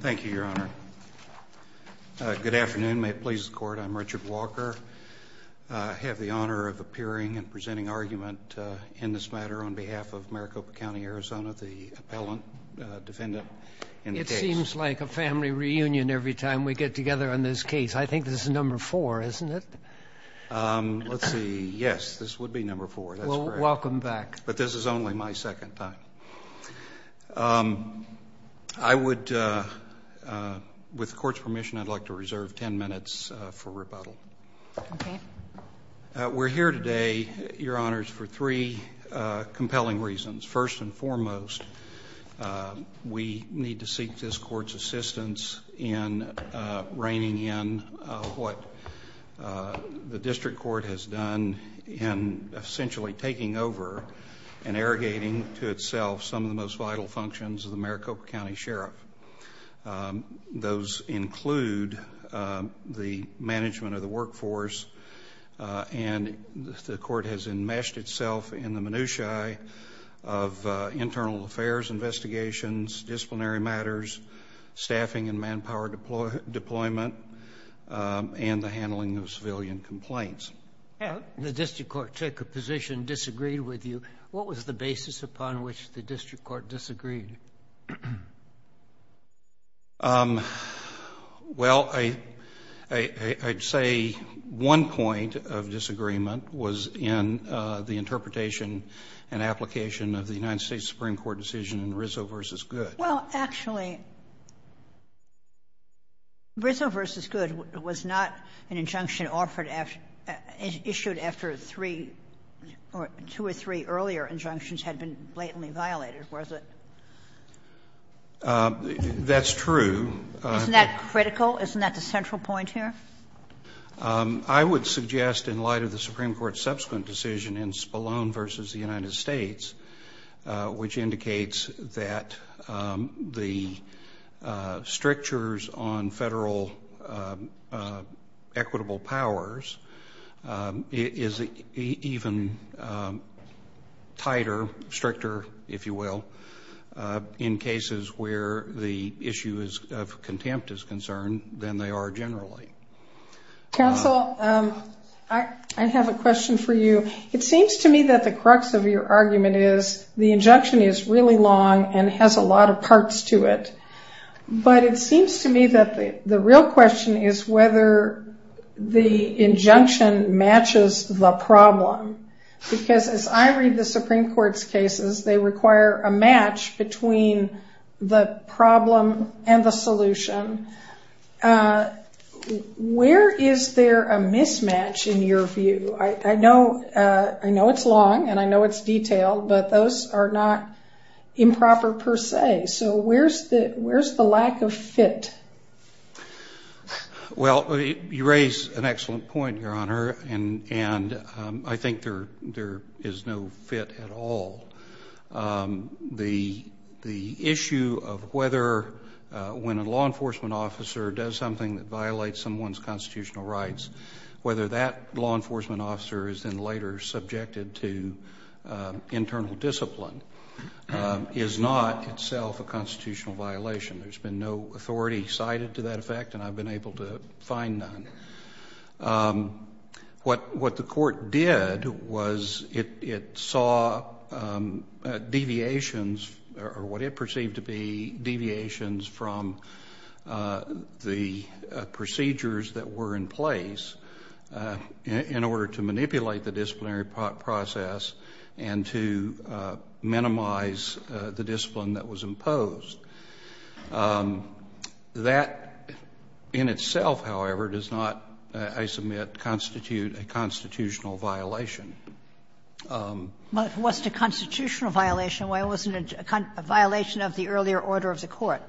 Thank you, Your Honor. Good afternoon. May it please the Court, I'm Richard Walker. I have the honor of appearing and presenting argument in this matter on behalf of Maricopa County, Arizona, the appellant defendant. It seems like a family reunion every time we get together on this case. I think this is number four, isn't it? Let's see, yes, this would be number four. Welcome back. But this is only my second time. I would, with the Court's permission, I'd like to reserve ten minutes for rebuttal. We're here today, Your Honors, for three compelling reasons. First and foremost, we need to seek this Court's assistance in reining in what the District Court has done in essentially taking over and arrogating to itself some of the most vital functions of the Maricopa County Sheriff. Those include the management of the workforce, and the Court has enmeshed itself in the minutiae of internal affairs investigations, disciplinary matters, staffing and manpower deployment, and the handling of civilian complaints. The District Court took a position, disagreed with you. What was the basis upon which the District Court disagreed? Well, I'd say one point of disagreement was in the interpretation and application of the United States Supreme Court decision in Rizzo v. Goode. Well, actually, Rizzo v. Goode was not an injunction offered after issued after three or two or three earlier injunctions had been blatantly violated, was it? That's true. Isn't that critical? Isn't that the central point here? I would suggest in light of the Supreme Court's subsequent decision in Spallone v. the United States, which indicates that the strictures on federal equitable powers is even tighter, stricter, if you will, in cases where the issue of contempt is concerned than they are generally. Counsel, I have a question for you. It seems to me that the crux of your argument is the injunction is really long and has a lot of parts to it, but it seems to me that the real question is whether the injunction matches the problem, because as I read the Supreme Court's cases, they require a match between the problem and the solution. Where is there a mismatch in your view? I know it's long and I know it's detailed, but those are not improper per se, so where's the lack of fit? Well, you raise an excellent point, Your Honor, and I think there is no fit at all. The issue of whether when a law enforcement officer does something that violates someone's constitutional rights, whether that law enforcement officer is then later subjected to internal discipline is not itself a constitutional violation. There's been no authority cited to that effect, and I've been able to find none. What the Court did was it saw deviations, or what it perceived to be deviations, from the procedures that were in place in order to manipulate the disciplinary process and to minimize the discipline that was imposed. That in itself, however, does not, I don't think, constitute a constitutional violation. But it wasn't a constitutional violation. Why wasn't it a violation of the earlier order of the Court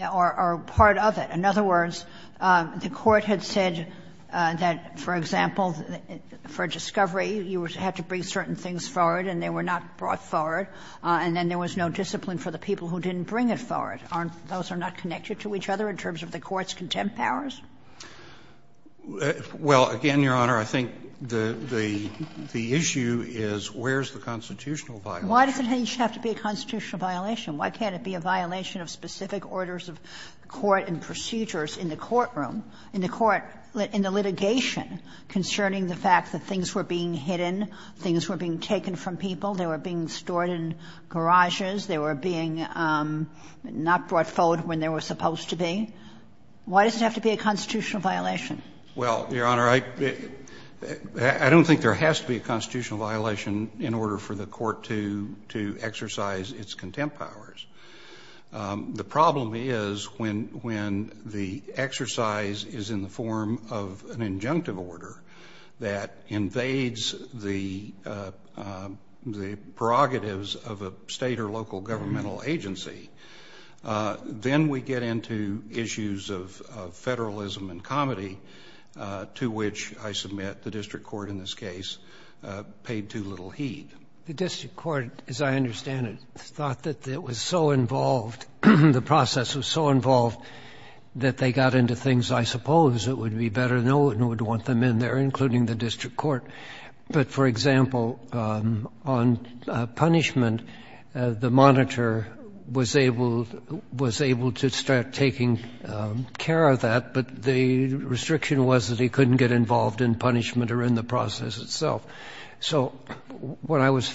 or part of it? In other words, the Court had said that, for example, for a discovery, you had to bring certain things forward and they were not brought forward, and then there was no discipline for the people who didn't bring it forward. Aren't those not connected to each other in terms of the Court's contempt powers? Well, again, Your Honor, I think the issue is where's the constitutional violation? Why does it have to be a constitutional violation? Why can't it be a violation of specific orders of court and procedures in the courtroom, in the court, in the litigation concerning the fact that things were being hidden, things were being taken from people, they were being stored in garages, they were being not brought forward when they were supposed to be? Why does it have to be a constitutional violation? Well, Your Honor, I don't think there has to be a constitutional violation in order for the Court to exercise its contempt powers. The problem is when the exercise is in the form of an injunctive order that invades the prerogatives of a State or local Then we get into issues of Federalism and comedy, to which I submit the district court in this case paid too little heed. The district court, as I understand it, thought that it was so involved, the process was so involved, that they got into things I suppose it would be better no one would want them in there, including the district court. But, for example, on punishment, the monitor was able to start taking care of that, but the restriction was that he couldn't get involved in punishment or in the process itself. So what I was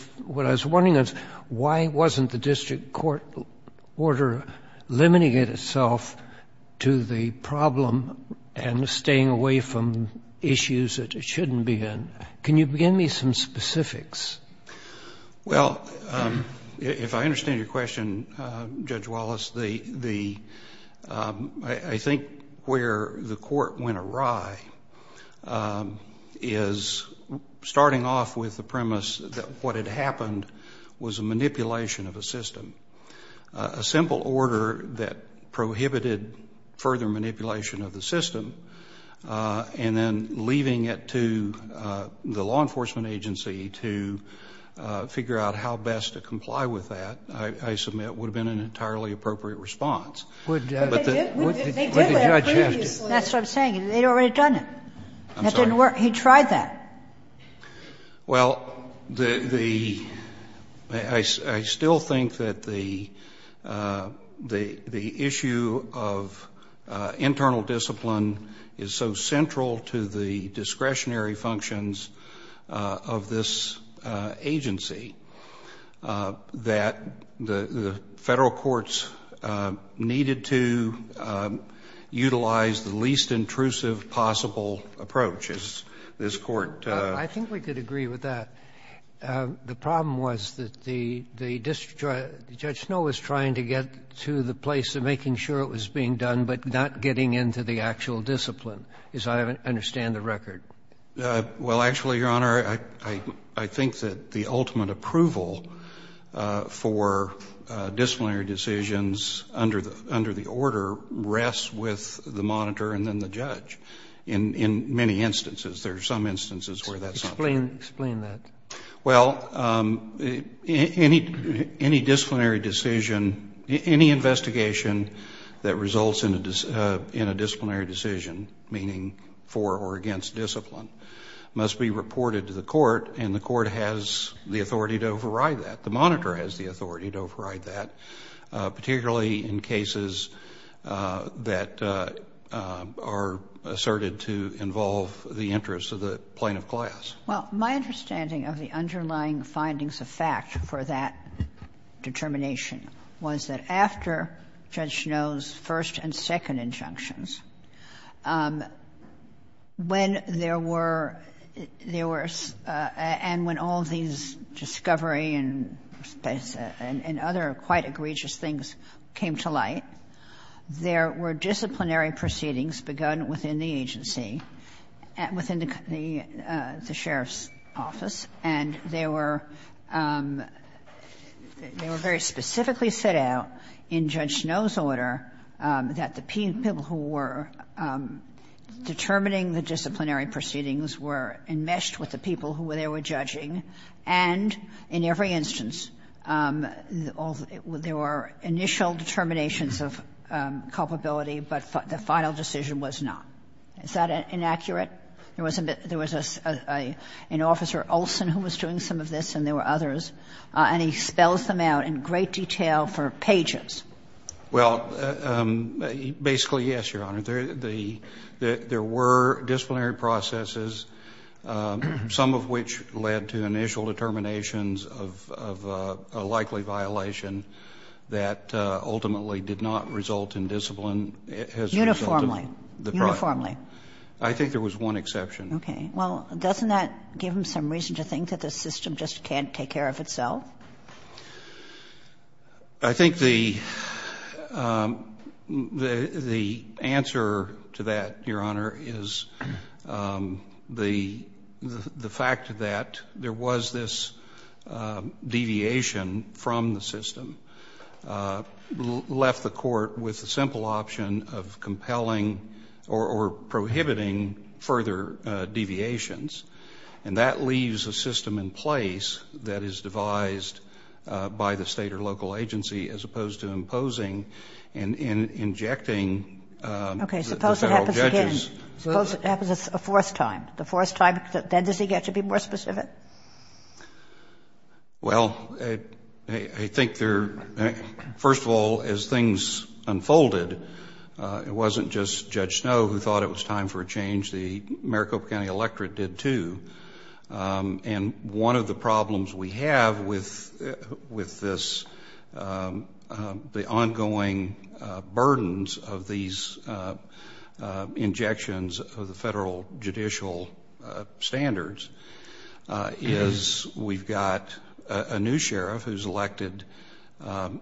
wondering is why wasn't the district court order limiting itself to the problem and staying away from issues that it shouldn't be in? Can you give me some specifics? Well, if I understand your question, Judge Wallace, I think where the Court went awry is starting off with the premise that what had happened was a manipulation of a system. A simple order that prohibited further manipulation of the system and then leaving it to the law enforcement agency to figure out how best to comply with that, I submit, would have been an entirely appropriate response. But the judge did. That's what I'm saying. They'd already done it. That didn't work. He tried that. Well, the – I still think that the issue of internal discipline is so central to the discretionary functions of this agency that the Federal courts needed to utilize the least intrusive possible approach, as this Court – I think we could agree with that. The problem was that the district – Judge Snow was trying to get to the place of making sure it was being done, but not getting into the actual discipline, as I understand the record. Well, actually, Your Honor, I think that the ultimate approval for disciplinary decisions under the order rests with the monitor and then the judge in many instances. There are some instances where that's not fair. Explain that. Well, any disciplinary decision – any investigation that results in a disciplinary decision, meaning for or against discipline, must be reported to the court, and the court has the authority to override that. The monitor has the authority to override that, particularly in cases that are asserted to involve the interests of the plaintiff class. Well, my understanding of the underlying findings of fact for that determination was that after Judge Snow's first and second injunctions, when there were – there were – and when all these discovery and other quite egregious things came to light, there were disciplinary proceedings begun within the agency, within the sheriff's office, and they were – they were very specifically set out in Judge Snow's order that the people who were determining the disciplinary proceedings were enmeshed with the people who they were judging, and in every instance, there were initial determinations of culpability, but the final decision was not. Is that inaccurate? There was a bit – there was an officer, Olson, who was doing some of this and there were others, and he spells them out in great detail for pages. Well, basically, yes, Your Honor. There were disciplinary processes, some of which led to initial determinations of a likely violation that ultimately did not result in discipline. Uniformly. Uniformly. I think there was one exception. Okay. Well, doesn't that give him some reason to think that the system just can't take care of itself? I think the – the answer to that, Your Honor, is the fact that there was this deviation from the system left the court with the simple option of compelling or prohibiting further deviations, and that leaves a system in place that is devised by the State or local agency as opposed to imposing and injecting the federal judges. Okay. Suppose it happens again. Suppose it happens a fourth time. The fourth time, then does he get to be more specific? Well, I think there – first of all, as things unfolded, it wasn't just Judge Snow who thought it was time for a change. The Maricopa County electorate did, too, and one of the problems we have with this – the ongoing burdens of these injections of the federal judicial standards is we've got a new sheriff who's elected on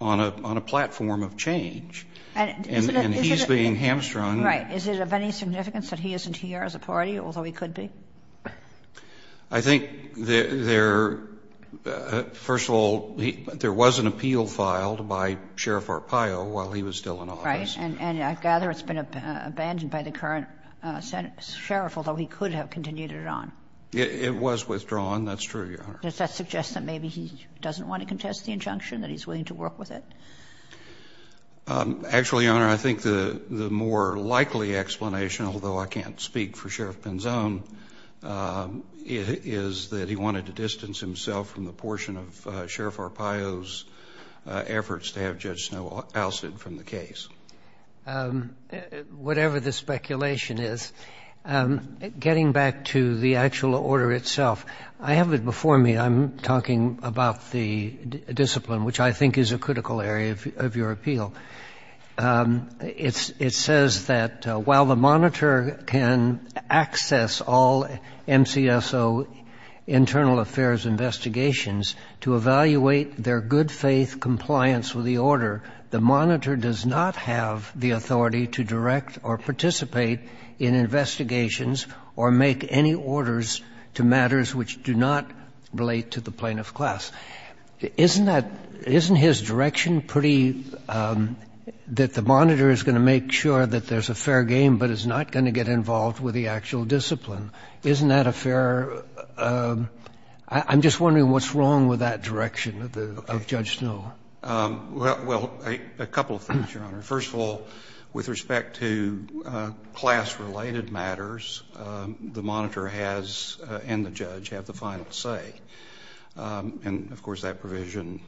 a platform of change, and he's being hamstrung. Right. Is it of any significance that he isn't here as a party, although he could be? I think there – first of all, there was an appeal filed by Sheriff Arpaio while he was still in office. Right. And I gather it's been abandoned by the current sheriff, although he could have continued it on. It was withdrawn. That's true, Your Honor. Does that suggest that maybe he doesn't want to contest the injunction, that he's willing to work with it? Actually, Your Honor, I think the more likely explanation, although I can't speak for Sheriff Pinzon, is that he wanted to distance himself from the portion of Sheriff Arpaio's efforts to have Judge Snow ousted from the case. Whatever the speculation is, getting back to the actual order itself, I have it before me. I'm talking about the discipline, which I think is a critical area of your appeal. It says that while the monitor can access all MCSO internal affairs investigations to evaluate their good faith compliance with the order, the monitor does not have the authority to direct or participate in investigations or make any orders to matters which do not relate to the plaintiff's class. Isn't that — isn't his direction pretty — that the monitor is going to make sure that there's a fair game but is not going to get involved with the actual discipline? Isn't that a fair — I'm just wondering what's wrong with that direction of Judge Snow. Well, a couple of things, Your Honor. First of all, with respect to class-related matters, the monitor has and the judge have the final say. And, of course, that provision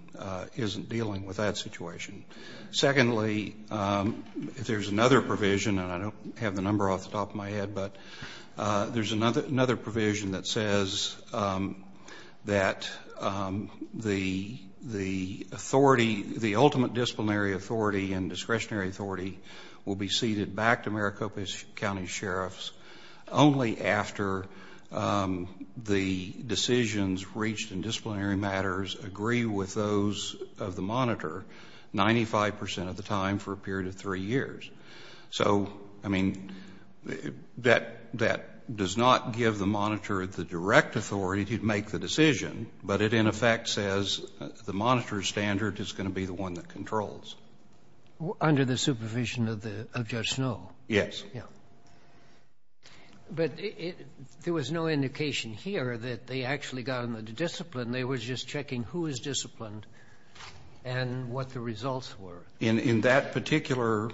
isn't dealing with that situation. Secondly, there's another provision, and I don't have the number off the top of my head, but there's another provision that says that the authority to direct authority — the ultimate disciplinary authority and discretionary authority will be ceded back to Maricopa County Sheriffs only after the decisions reached in disciplinary matters agree with those of the monitor 95 percent of the time for a period of three years. So, I mean, that does not give the monitor the direct authority to make the decisions. And, of course, that discretionary authority is going to be the one that controls. Under the supervision of Judge Snow? Yes. Yeah. But there was no indication here that they actually got on the discipline. They were just checking who was disciplined and what the results were. In that particular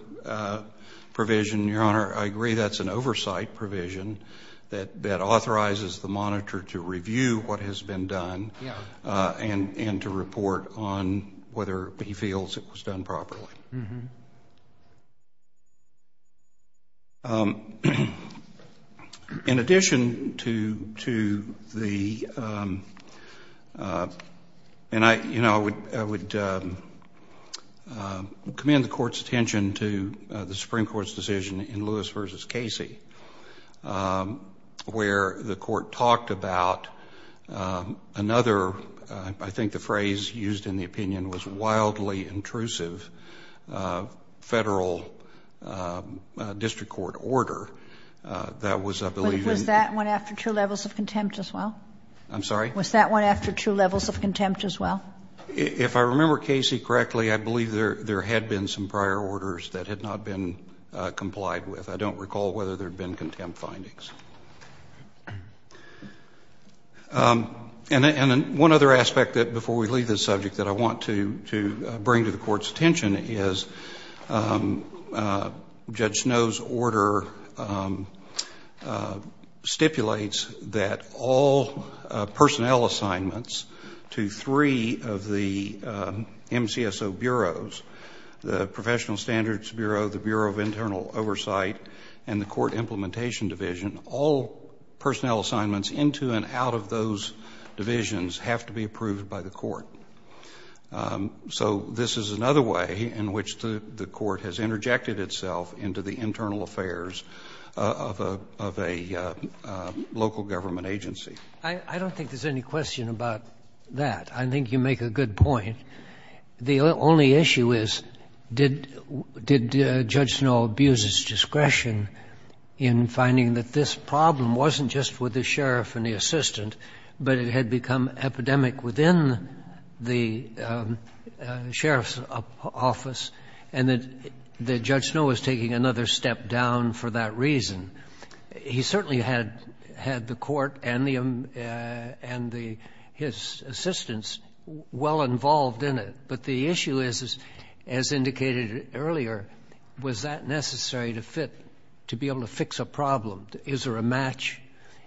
provision, Your Honor, I agree that's an oversight provision that authorizes the monitor to review what has been done and to report on whether he feels it was done properly. In addition to the — and, you know, I would commend the Court's attention to the Supreme Court's decision in Lewis v. Casey where the Court talked about another — I think the phrase used in the opinion was wildly intrusive — federal district court order that was, I believe — Was that one after two levels of contempt as well? I'm sorry? Was that one after two levels of contempt as well? If I remember Casey correctly, I believe there had been some prior orders that had not been complied with. I don't recall whether there had been contempt findings. And one other aspect before we leave this subject that I want to bring to the Court's attention is Judge Snow's order stipulates that all personnel assignments to three of the MCSO bureaus — the Professional Standards Bureau, the Bureau of Internal Oversight, and the Court Implementation Division — all personnel assignments into and out of those divisions have to be approved by the Court. So this is another way in which the Court has interjected itself into the internal affairs of a local government agency. I don't think there's any question about that. I think you make a good point. The only issue is, did Judge Snow abuse his discretion in finding that this problem wasn't just with the sheriff and the assistant, but it had become epidemic within the sheriff's office, and that Judge Snow was taking another step down for that reason? He certainly had the Court and the — and his assistants well involved in the issue. But the issue is, as indicated earlier, was that necessary to fit, to be able to fix a problem? Is there a match?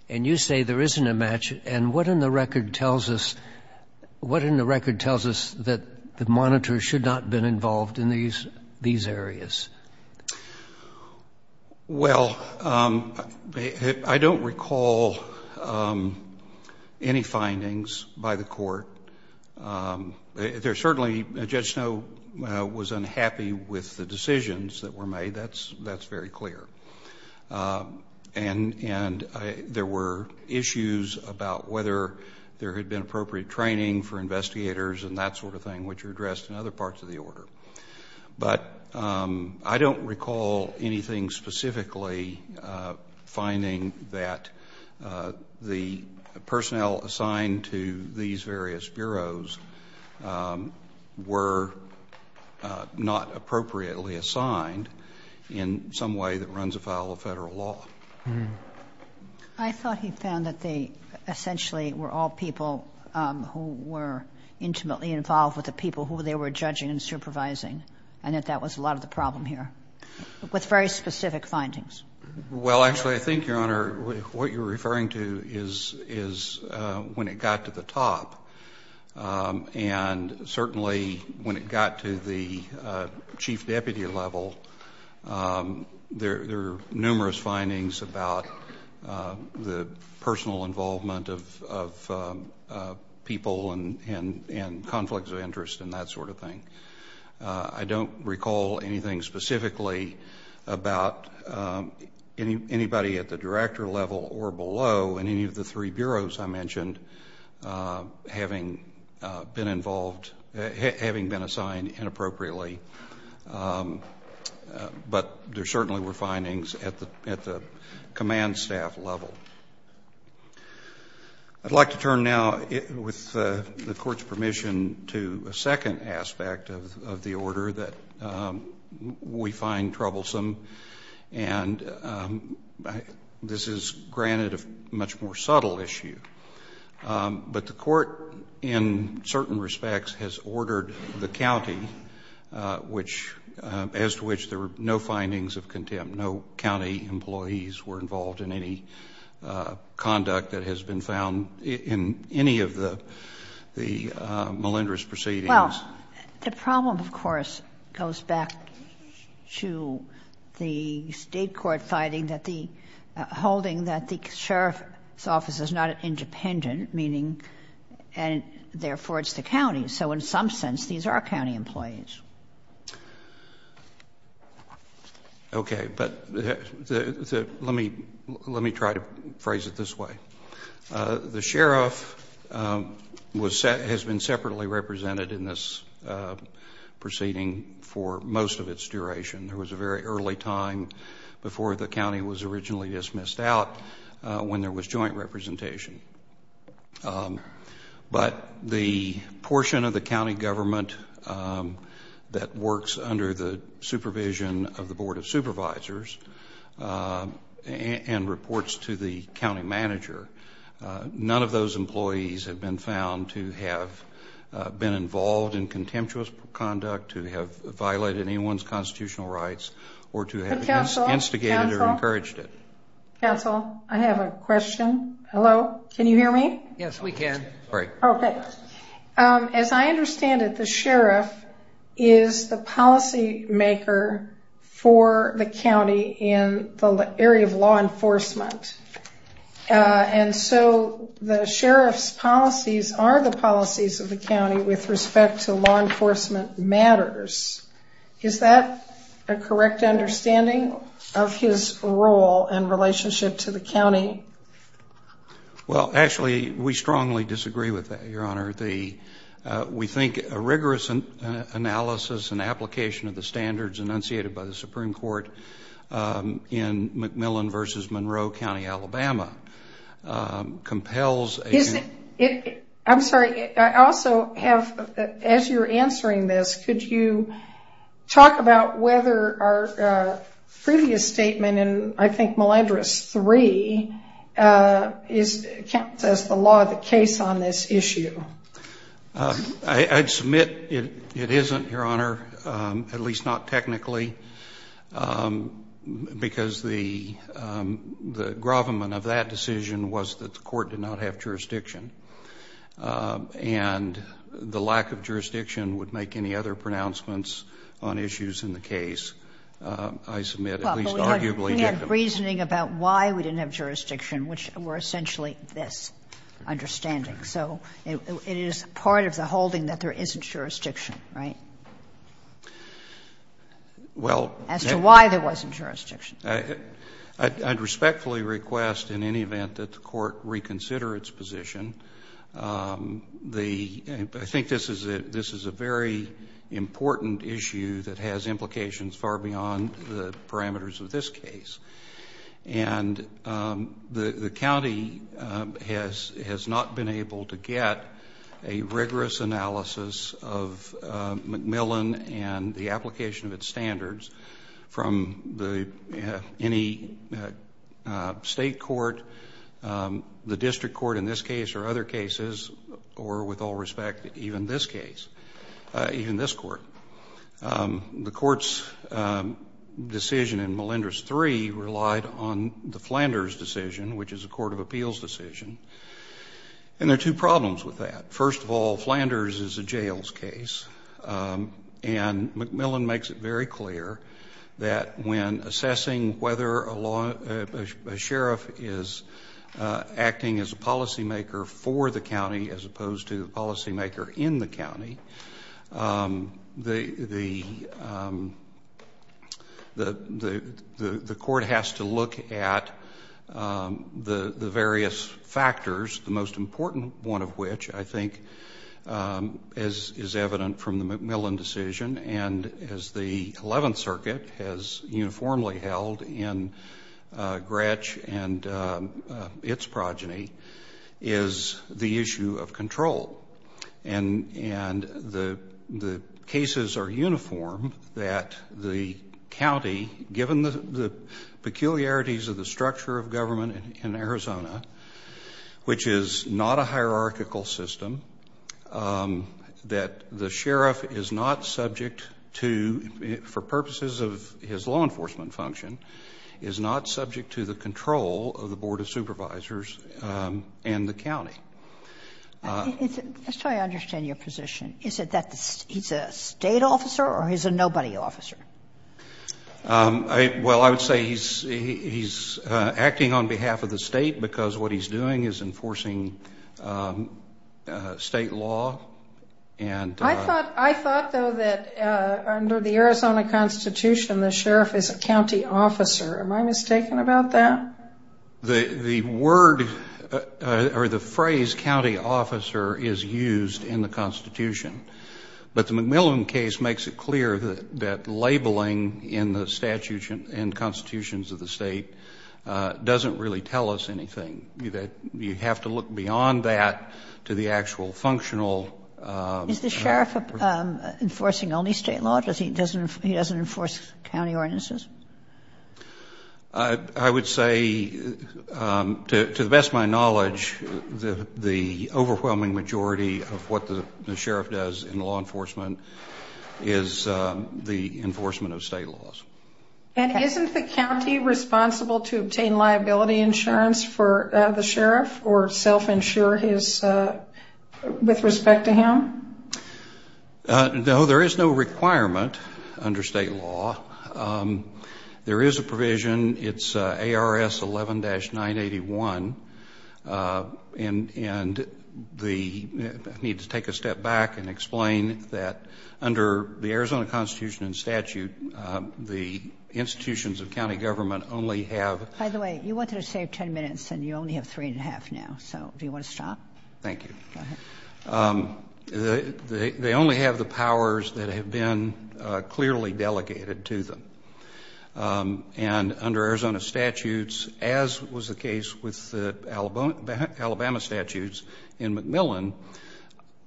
And you say there isn't a match. And what in the record tells us — what in the record tells us that the monitors should not have been involved in these areas? Well, I don't recall any findings by the Court. There certainly — Judge Snow was unhappy with the decisions that were made. That's very clear. And there were issues about whether there had been appropriate training for investigators and that sort of thing, which are addressed in other parts of the order. But I don't recall anything specifically finding that the personnel assigned to these various bureaus were not appropriately assigned in some way that runs afoul of federal law. I thought he found that they essentially were all people who were intimately involved with the people who they were judging and supervising, and that that was a lot of the problem here, with very specific findings. Well, actually, I think, Your Honor, what you're referring to is when it got to the top, and certainly when it got to the chief deputy level, there were numerous findings about the personal involvement of people and conflicts of interest and that sort of thing. I don't recall anything specifically about anybody at the director level or below in any of the three bureaus I mentioned having been involved — having been assigned inappropriately. But there certainly were findings at the command staff level. I'd like to turn now, with the Court's permission, to a second aspect of the order that we find troublesome. And this is, granted, a much more subtle issue. But the Court, in certain respects, has ordered the county which — as to which there were no findings of contempt. No county employees were involved in any conduct that has been found in any of the malingerous proceedings. Well, the problem, of course, goes back to the State court finding that the — holding that the sheriff's office is not independent, meaning — and therefore it's the county. So in some sense, these are county employees. Okay. But let me try to phrase it this way. The sheriff was — has been separately represented in this proceeding for most of its duration. There was a very early time before the county was originally dismissed out when there was joint representation. But the portion of the county government that works under the supervision of the none of those employees have been found to have been involved in contemptuous conduct, to have violated anyone's constitutional rights, or to have instigated or encouraged it. Counsel? Counsel? Counsel? I have a question. Hello? Can you hear me? Yes, we can. Great. Okay. As I understand it, the sheriff is the policymaker for the county in the area of law enforcement. And so the sheriff's policies are the policies of the county with respect to law enforcement matters. Is that a correct understanding of his role in relationship to the county? Well, actually, we strongly disagree with that, Your Honor. We think a rigorous analysis and application of the standards enunciated by the Supreme Court in McMillan v. Monroe County, Alabama compels a... I'm sorry. I also have, as you're answering this, could you talk about whether our previous statement in, I think, Mellendris 3 counts as the law of the case on this issue? I'd submit it isn't, Your Honor, at least not technically, because the grovelman of that decision was that the court did not have jurisdiction. And the lack of jurisdiction would make any other pronouncements on issues in the case. I submit, at least arguably... We had reasoning about why we didn't have jurisdiction, which were essentially this understanding. So it is part of the holding that there isn't jurisdiction, right? Well... As to why there wasn't jurisdiction. I'd respectfully request, in any event, that the court reconsider its position. I think this is a very important issue that has implications far beyond the parameters of this case. And the county has not been able to get a rigorous analysis of McMillan and the application of its standards from any state court, the district court in this case or other cases, or with all respect, even this case, even this court. The court's decision in Melendrez III relied on the Flanders decision, which is a court of appeals decision. And there are two problems with that. First of all, Flanders is a jails case. And McMillan makes it very clear that when assessing whether a sheriff is acting as a policymaker for the county as opposed to a policymaker in the county, the court has to look at the various factors, the most important one of which, I think, is evident from the McMillan decision. And as the 11th Circuit has uniformly held in Gretch and its progeny, is the issue of control. And the cases are uniform that the county, given the peculiarities of the structure of government in Arizona, which is not a hierarchical system, that the sheriff is not subject to, for purposes of his law enforcement function, is not subject to the control of the Board of Supervisors and the county. Let's try to understand your position. Is it that he's a state officer or he's a nobody officer? Well, I would say he's acting on behalf of the state because what he's doing is enforcing state law. I thought, though, that under the Arizona Constitution, the sheriff is a county officer. Am I mistaken about that? The word or the phrase county officer is used in the Constitution. But the McMillan case makes it clear that labeling in the statutes and constitutions of the state doesn't really tell us anything. You have to look beyond that to the actual functional. Is the sheriff enforcing only state law? He doesn't enforce county ordinances? I would say, to the best of my knowledge, the overwhelming majority of what the sheriff does in law enforcement is the enforcement of state laws. And isn't the county responsible to obtain liability insurance for the sheriff or self-insure with respect to him? No, there is no requirement under state law. There is a provision. It's ARS 11-981. And the need to take a step back and explain that under the Arizona Constitution and statute, the institutions of county government only have By the way, you wanted to save ten minutes and you only have three and a half now. So do you want to stop? Thank you. Go ahead. They only have the powers that have been clearly delegated to them. And under Arizona statutes, as was the case with Alabama statutes in McMillan,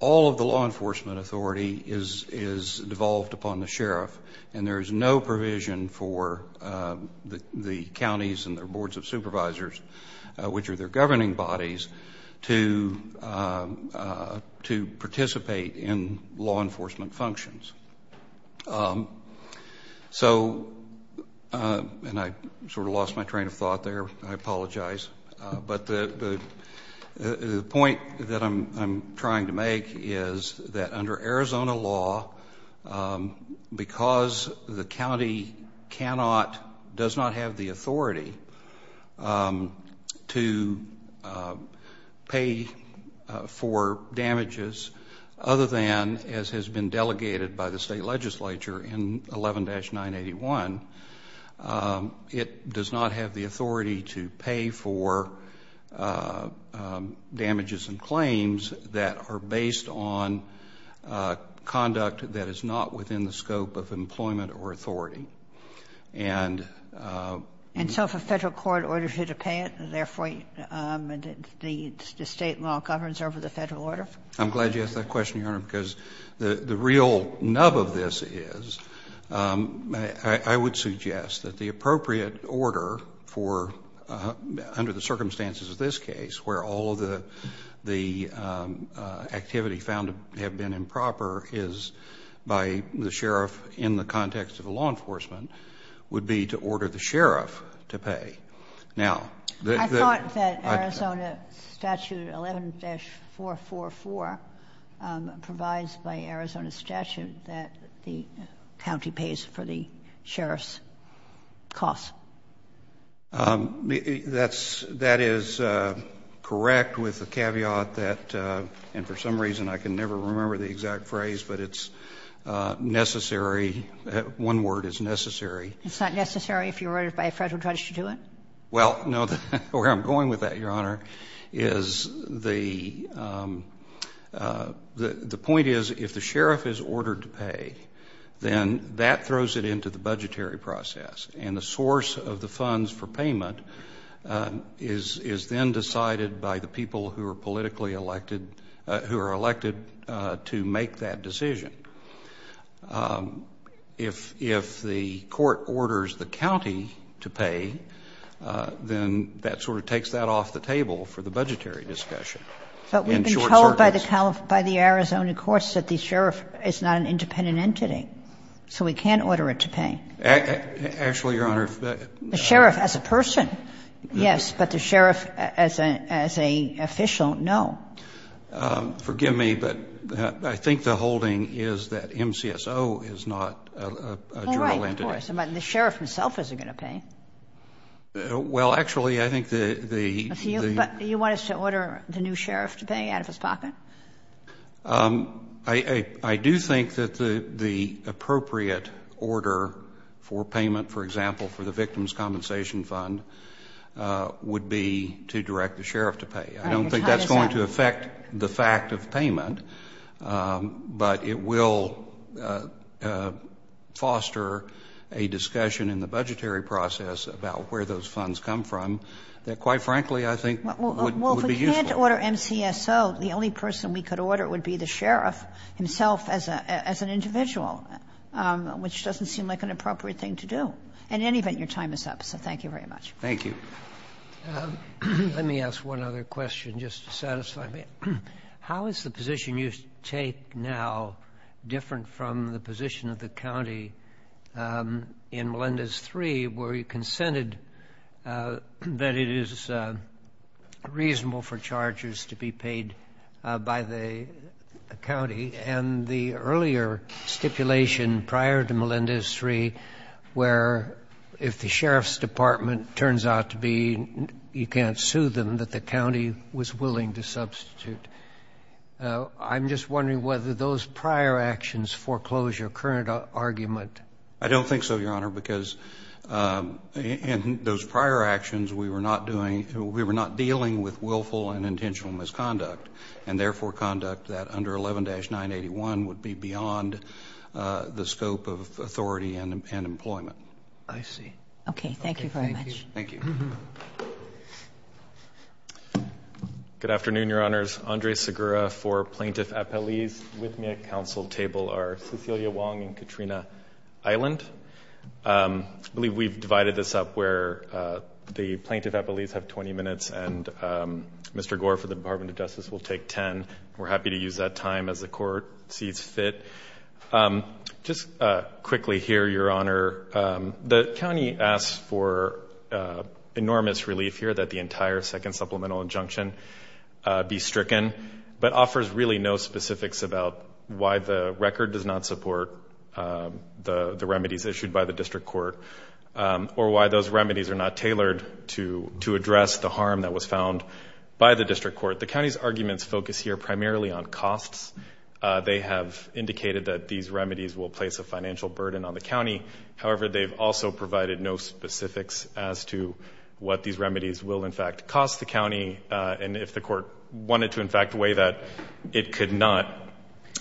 all of the law enforcement authority is devolved upon the sheriff. And there is no provision for the counties and their boards of officers to participate in law enforcement functions. So, and I sort of lost my train of thought there. I apologize. But the point that I'm trying to make is that under Arizona law, because the county cannot, does not have the authority to pay for damages other than as has been delegated by the state legislature in 11-981, it does not have the authority to pay for damages and claims that are based on conduct that is not within the scope of employment or authority. And so if a Federal court orders you to pay it, therefore the state law governs over the Federal order? I'm glad you asked that question, Your Honor, because the real nub of this is I would suggest that the appropriate order for, under the circumstances of this case, where all of the activity found to have been improper is by the sheriff in the context of the law enforcement, would be to order the sheriff to pay. Now, the I thought that Arizona statute 11-444 provides by Arizona statute that the county pays for the sheriff's costs. That is correct with the caveat that, and for some reason I can never remember the exact phrase, but it's necessary. One word is necessary. It's not necessary if you were ordered by a Federal judge to do it? Well, no. Where I'm going with that, Your Honor, is the point is if the sheriff is ordered to pay, then that throws it into the budgetary process. And the source of the funds for payment is then decided by the people who are politically elected, who are elected to make that decision. If the court orders the county to pay, then that sort of takes that off the table for the budgetary discussion. But we've been told by the Arizona courts that the sheriff is not an independent entity, so we can't order it to pay. Actually, Your Honor. The sheriff as a person, yes. But the sheriff as an official, no. Forgive me, but I think the holding is that MCSO is not a general entity. Well, right, of course. But the sheriff himself isn't going to pay. Well, actually, I think the But you want us to order the new sheriff to pay out of his pocket? I do think that the appropriate order for payment, for example, for the victim's compensation fund would be to direct the sheriff to pay. I don't think that's going to affect the fact of payment, but it will foster a discussion in the budgetary process about where those funds come from that, quite frankly, I think would be useful. Well, if we can't order MCSO, the only person we could order would be the sheriff himself as an individual, which doesn't seem like an appropriate thing to do. In any event, your time is up, so thank you very much. Thank you. Let me ask one other question just to satisfy me. How is the position you take now different from the position of the county in Melendez 3 where you consented that it is reasonable for charges to be paid by the county and the earlier stipulation prior to Melendez 3 where if the sheriff's department turns out to be, you can't sue them, that the county was willing to substitute? I'm just wondering whether those prior actions foreclose your current argument. I don't think so, Your Honor, because in those prior actions, we were not dealing with willful and intentional misconduct and, therefore, conduct that under 11-981 would be beyond the scope of authority and employment. I see. Okay. Thank you very much. Thank you. Good afternoon, Your Honors. Andres Segura for Plaintiff Appellees. With me at counsel table are Cecilia Wong and Katrina Island. I believe we've divided this up where the Plaintiff Appellees have 20 minutes and Mr. Gore for the Department of Justice will take 10. We're happy to use that time as the court sees fit. Just quickly here, Your Honor, the county asks for enormous relief here that the entire second supplemental injunction be stricken but offers really no specifics about why the record does not support the remedies issued by the district court or why those remedies are not tailored to address the harm that was found by the district court. The county's arguments focus here primarily on costs. They have indicated that these remedies will place a financial burden on the county. However, they've also provided no specifics as to what these remedies will, in fact, cost the county and if the court wanted to, in fact, weigh that, it could not.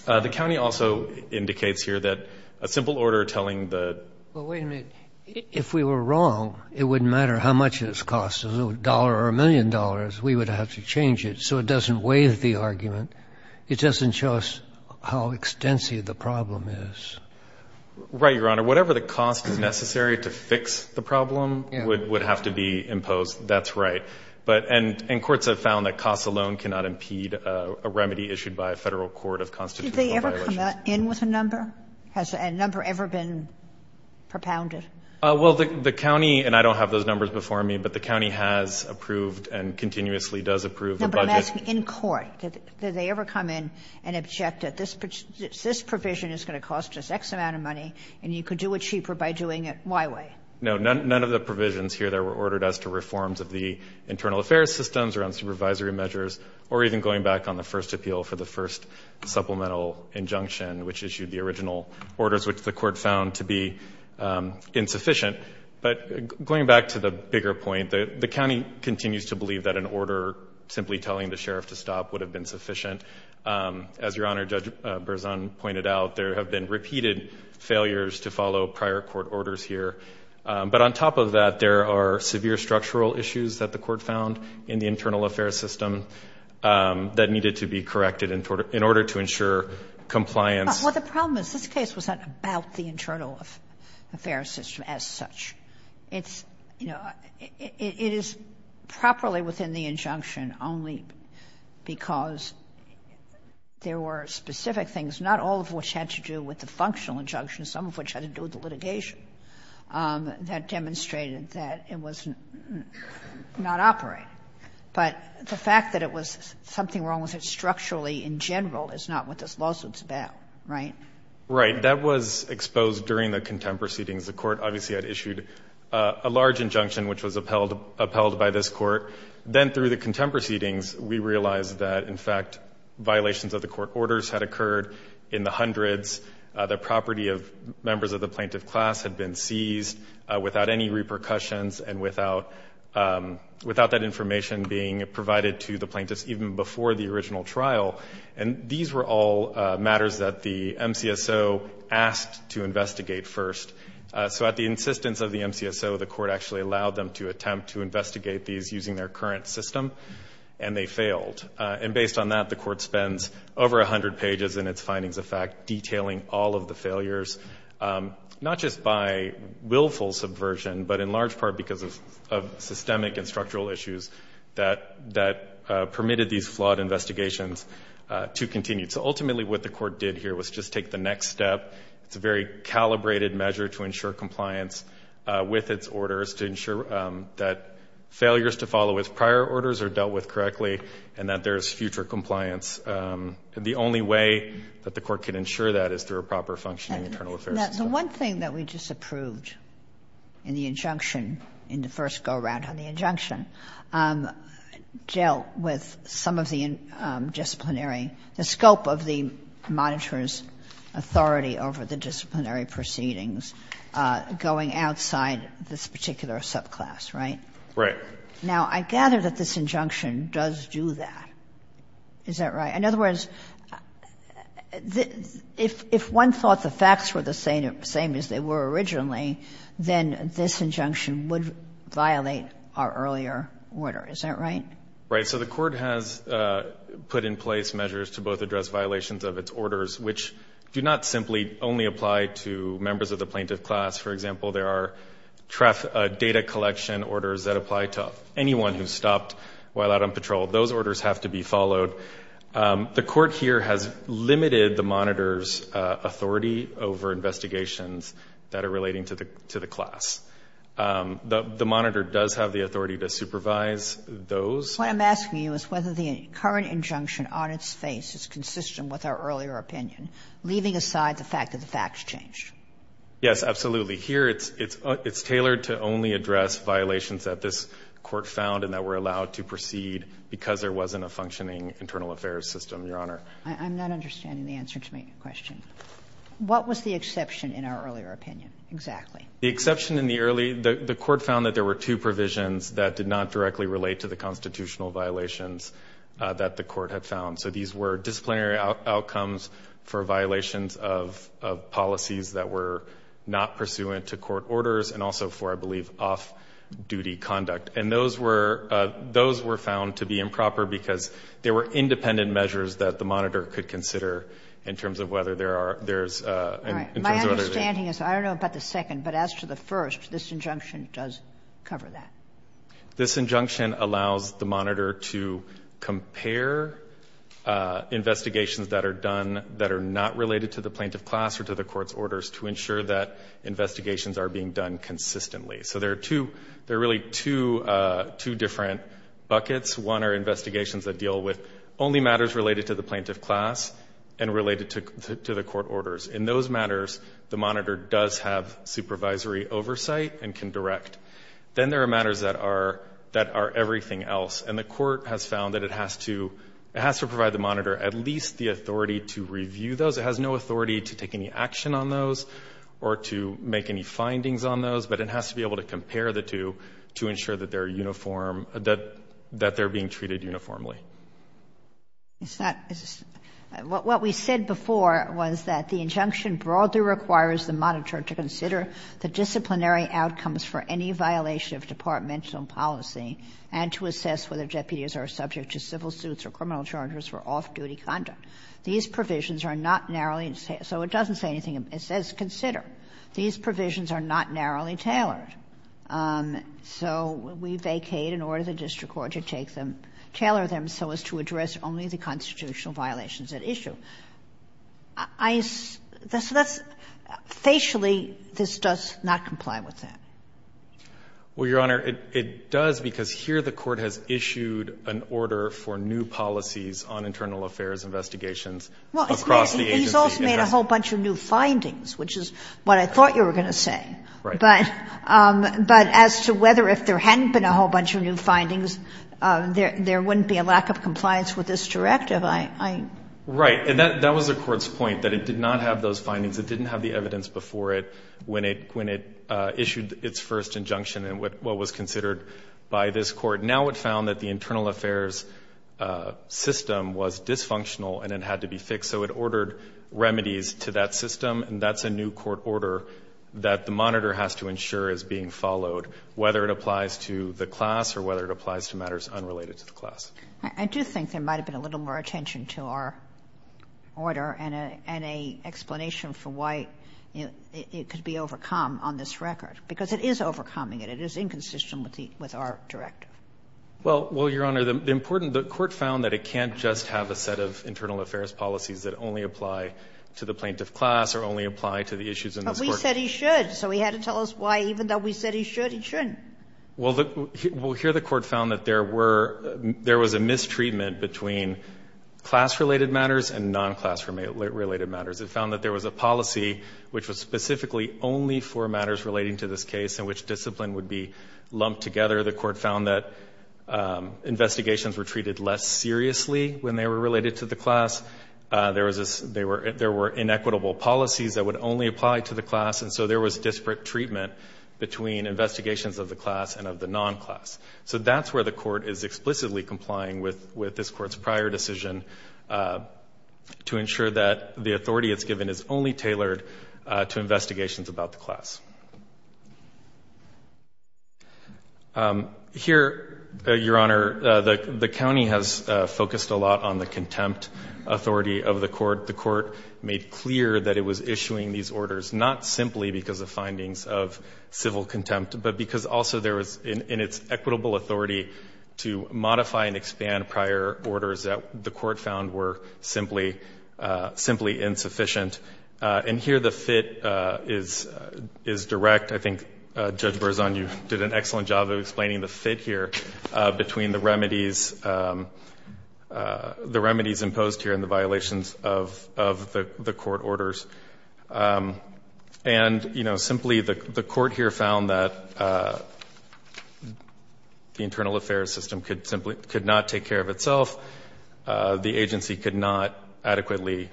The county also indicates here that a simple order telling the ---- Well, wait a minute. If we were wrong, it wouldn't matter how much it costs, a dollar or a million dollars. We would have to change it so it doesn't weigh the argument. It doesn't show us how extensive the problem is. Right, Your Honor. Whatever the cost is necessary to fix the problem would have to be imposed. That's right. And courts have found that costs alone cannot impede a remedy issued by a Federal court of constitutional violations. Did they ever come in with a number? Has a number ever been propounded? Well, the county, and I don't have those numbers before me, but the county has approved and continuously does approve a budget. No, but I'm asking in court. Did they ever come in and object that this provision is going to cost us X amount of money and you could do it cheaper by doing it my way? No. None of the provisions here that were ordered as to reforms of the internal affairs systems around supervisory measures or even going back on the first appeal for the first supplemental injunction which issued the original orders which the court found to be insufficient. But going back to the bigger point, the county continues to believe that an order simply telling the sheriff to stop would have been sufficient. As Your Honor, Judge Berzon pointed out, there have been repeated failures to follow prior court orders here. But on top of that, there are severe structural issues that the court found in the internal affairs system that needed to be corrected in order to ensure compliance. Well, the problem is this case was not about the internal affairs system as such. It's, you know, it is properly within the injunction only because there were specific things, not all of which had to do with the functional injunction, some of which had to do with the litigation that demonstrated that it was not operating. But the fact that it was something wrong with it structurally in general is not what this lawsuit is about, right? Right. That was exposed during the contempt proceedings. The court obviously had issued a large injunction which was upheld by this court. Then through the contempt proceedings, we realized that, in fact, violations of the court orders had occurred in the hundreds. The property of members of the plaintiff class had been seized without any repercussions and without that information being provided to the plaintiffs even before the original trial. And these were all matters that the MCSO asked to investigate first. So at the insistence of the MCSO, the court actually allowed them to attempt to investigate these using their current system, and they failed. And based on that, the court spends over 100 pages in its findings of fact detailing all of the failures, not just by willful subversion, but in large part because of systemic and structural issues that permitted these flawed investigations to continue. So ultimately what the court did here was just take the next step. It's a very calibrated measure to ensure compliance with its orders to ensure that failures to follow with prior orders are dealt with correctly and that there is future compliance. The only way that the court can ensure that is through a proper functioning internal affairs system. The one thing that we just approved in the injunction, in the first go-around on the injunction, dealt with some of the disciplinary, the scope of the monitor's authority over the disciplinary proceedings going outside this particular subclass, right? Right. Now, I gather that this injunction does do that. Is that right? In other words, if one thought the facts were the same as they were originally, then this injunction would violate our earlier order. Is that right? Right. So the court has put in place measures to both address violations of its orders which do not simply only apply to members of the plaintiff class. For example, there are data collection orders that apply to anyone who's stopped while out on patrol. Those orders have to be followed. The court here has limited the monitor's authority over investigations that are subject to the class. The monitor does have the authority to supervise those. What I'm asking you is whether the current injunction on its face is consistent with our earlier opinion, leaving aside the fact that the facts changed. Yes, absolutely. Here it's tailored to only address violations that this court found and that were allowed to proceed because there wasn't a functioning internal affairs system, Your Honor. I'm not understanding the answer to my question. What was the exception in our earlier opinion exactly? The exception in the early, the court found that there were two provisions that did not directly relate to the constitutional violations that the court had found. So these were disciplinary outcomes for violations of policies that were not pursuant to court orders and also for, I believe, off-duty conduct. And those were found to be improper because they were independent measures that the monitor could consider in terms of whether there are, there's, in terms All right. My understanding is, I don't know about the second, but as to the first, this injunction does cover that. This injunction allows the monitor to compare investigations that are done that are not related to the plaintiff class or to the court's orders to ensure that investigations are being done consistently. So there are two, there are really two, two different buckets. One are investigations that deal with only matters related to the plaintiff class and related to the court orders. In those matters, the monitor does have supervisory oversight and can direct. Then there are matters that are, that are everything else. And the court has found that it has to, it has to provide the monitor at least the authority to review those. It has no authority to take any action on those or to make any findings on those. But it has to be able to compare the two to ensure that they're uniform, that they're being treated uniformly. It's not, what we said before was that the injunction broadly requires the monitor to consider the disciplinary outcomes for any violation of departmental policy and to assess whether deputies are subject to civil suits or criminal charges for off-duty conduct. These provisions are not narrowly, so it doesn't say anything, it says consider. These provisions are not narrowly tailored. So we vacate and order the district court to take them, tailor them so as to address only the constitutional violations at issue. I, that's, facially this does not comply with that. Well, Your Honor, it does because here the court has issued an order for new policies on internal affairs investigations across the agency. Well, he's also made a whole bunch of new findings, which is what I thought you were going to say. Right. But as to whether if there hadn't been a whole bunch of new findings, there wouldn't be a lack of compliance with this directive. Right. And that was the court's point, that it did not have those findings, it didn't have the evidence before it when it issued its first injunction and what was considered by this court. Now it found that the internal affairs system was dysfunctional and it had to be fixed. So it ordered remedies to that system and that's a new court order that the court has to ensure is being followed, whether it applies to the class or whether it applies to matters unrelated to the class. I do think there might have been a little more attention to our order and an explanation for why it could be overcome on this record, because it is overcoming it. It is inconsistent with our directive. Well, Your Honor, the important, the court found that it can't just have a set of internal affairs policies that only apply to the plaintiff class or only apply to the issues in this court. But we said he should, so he had to tell us why even though we said he should, he shouldn't. Well, here the court found that there were, there was a mistreatment between class-related matters and non-class-related matters. It found that there was a policy which was specifically only for matters relating to this case in which discipline would be lumped together. The court found that investigations were treated less seriously when they were related to the class. There was, there were inequitable policies that would only apply to the class, and so there was disparate treatment between investigations of the class and of the non-class. So that's where the court is explicitly complying with this court's prior decision to ensure that the authority it's given is only tailored to investigations about the class. Here, Your Honor, the county has focused a lot on the contempt authority of the court. The court made clear that it was issuing these orders not simply because of findings of civil contempt, but because also there was in its equitable authority to modify and expand prior orders that the court found were simply, simply insufficient. And here the fit is direct. I think Judge Berzon, you did an excellent job of explaining the fit here between the remedies, the remedies imposed here and the violations of the court orders. And, you know, simply the court here found that the internal affairs system could simply, could not take care of itself. The agency could not adequately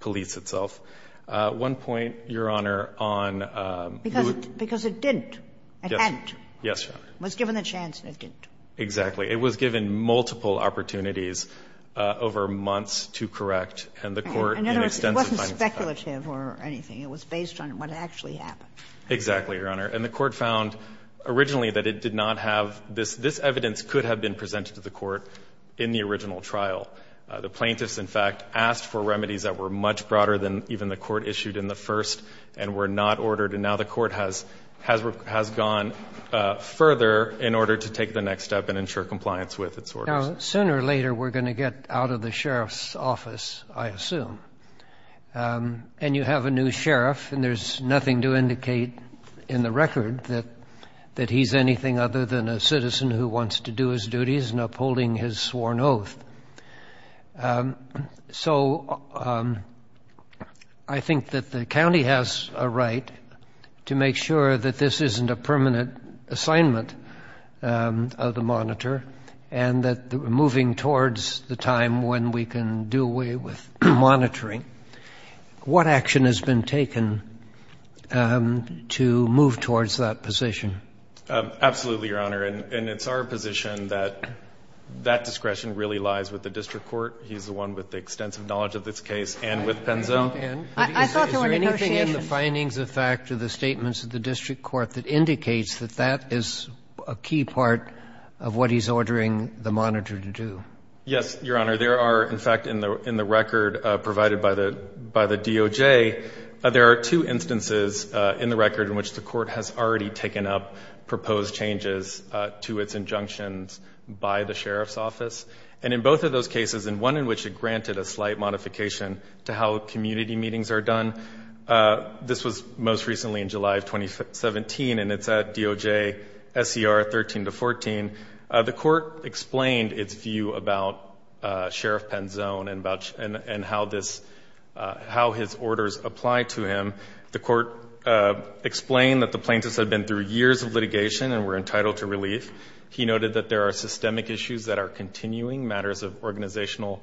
police itself. One point, Your Honor, on the court. Because it didn't. It hadn't. Yes, Your Honor. It was given the chance and it didn't. Exactly. It was given multiple opportunities over months to correct, and the court in extensive findings found that. In other words, it wasn't speculative or anything. It was based on what actually happened. Exactly, Your Honor. And the court found originally that it did not have this. This evidence could have been presented to the court in the original trial. The plaintiffs, in fact, asked for remedies that were much broader than even the court issued in the first and were not ordered. And now the court has gone further in order to take the next step and ensure compliance with its orders. Now, sooner or later we're going to get out of the sheriff's office, I assume. And you have a new sheriff and there's nothing to indicate in the record that he's anything other than a citizen who wants to do his duties and upholding his sworn oath. So I think that the county has a right to make sure that this isn't a permanent assignment of the monitor and that moving towards the time when we can do away with monitoring, what action has been taken to move towards that position? Absolutely, Your Honor. And it's our position that that discretion really lies with the district court. He's the one with the extensive knowledge of this case and with Penzo. I thought there were negotiations. Is there anything in the findings of fact or the statements of the district court that indicates that that is a key part of what he's ordering the monitor to do? Yes, Your Honor. There are, in fact, in the record provided by the DOJ, there are two instances in the record in which the court has already taken up proposed changes to its injunctions by the sheriff's office. And in both of those cases, and one in which it granted a slight modification to how community meetings are done, this was most recently in July of 2017 and it's at DOJ SCR 13-14. The court explained its view about Sheriff Penzone and how his orders apply to him. The court explained that the plaintiffs had been through years of litigation and were entitled to relief. He noted that there are systemic issues that are continuing, matters of organizational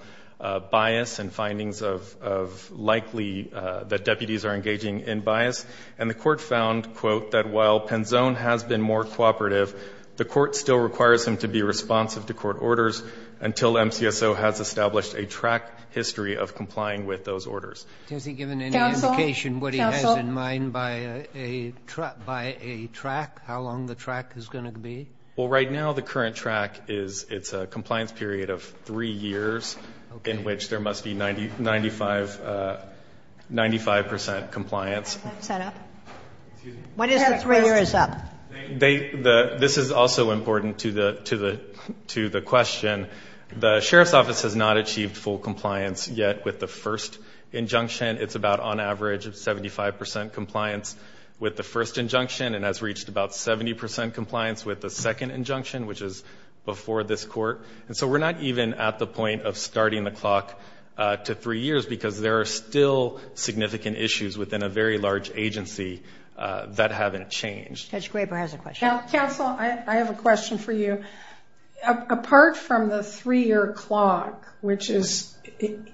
bias and findings of likely that deputies are engaging in bias. And the court found, quote, that while Penzone has been more cooperative, the court still requires him to be responsive to court orders until MCSO has established a track history of complying with those orders. Has he given any indication what he has in mind by a track? How long the track is going to be? Well, right now the current track is it's a compliance period of three years in which there must be 95% compliance. What is the three years up? This is also important to the question. The sheriff's office has not achieved full compliance yet with the first injunction. It's about, on average, 75% compliance with the first injunction and has reached about 70% compliance with the second injunction, which is before this court. And so we're not even at the point of starting the clock to three years because there are still significant issues within a very large agency that haven't changed. Judge Graber has a question. Counsel, I have a question for you. Apart from the three-year clock, which is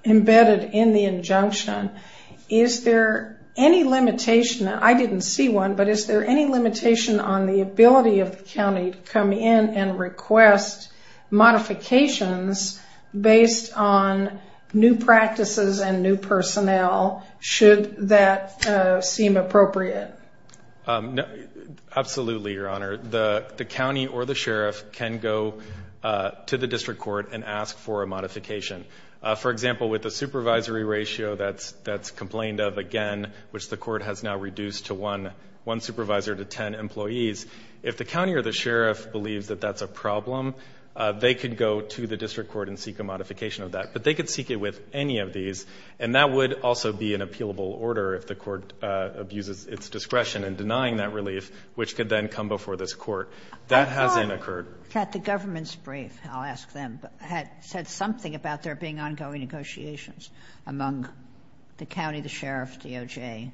embedded in the injunction, is there any limitation? I didn't see one, but is there any limitation on the ability of the county to come in and request modifications based on new practices and new personnel should that seem appropriate? Absolutely, Your Honor. The county or the sheriff can go to the district court and ask for a modification. For example, with the supervisory ratio that's complained of again, which the court has now reduced to one supervisor to ten employees, if the county or the sheriff believes that that's a problem, they could go to the district court and seek a modification of that. But they could seek it with any of these, and that would also be an appealable order if the court abuses its discretion in denying that relief, which could then come before this court. That hasn't occurred. The government's brief, I'll ask them, said something about there being ongoing negotiations among the county, the sheriff, DOJ,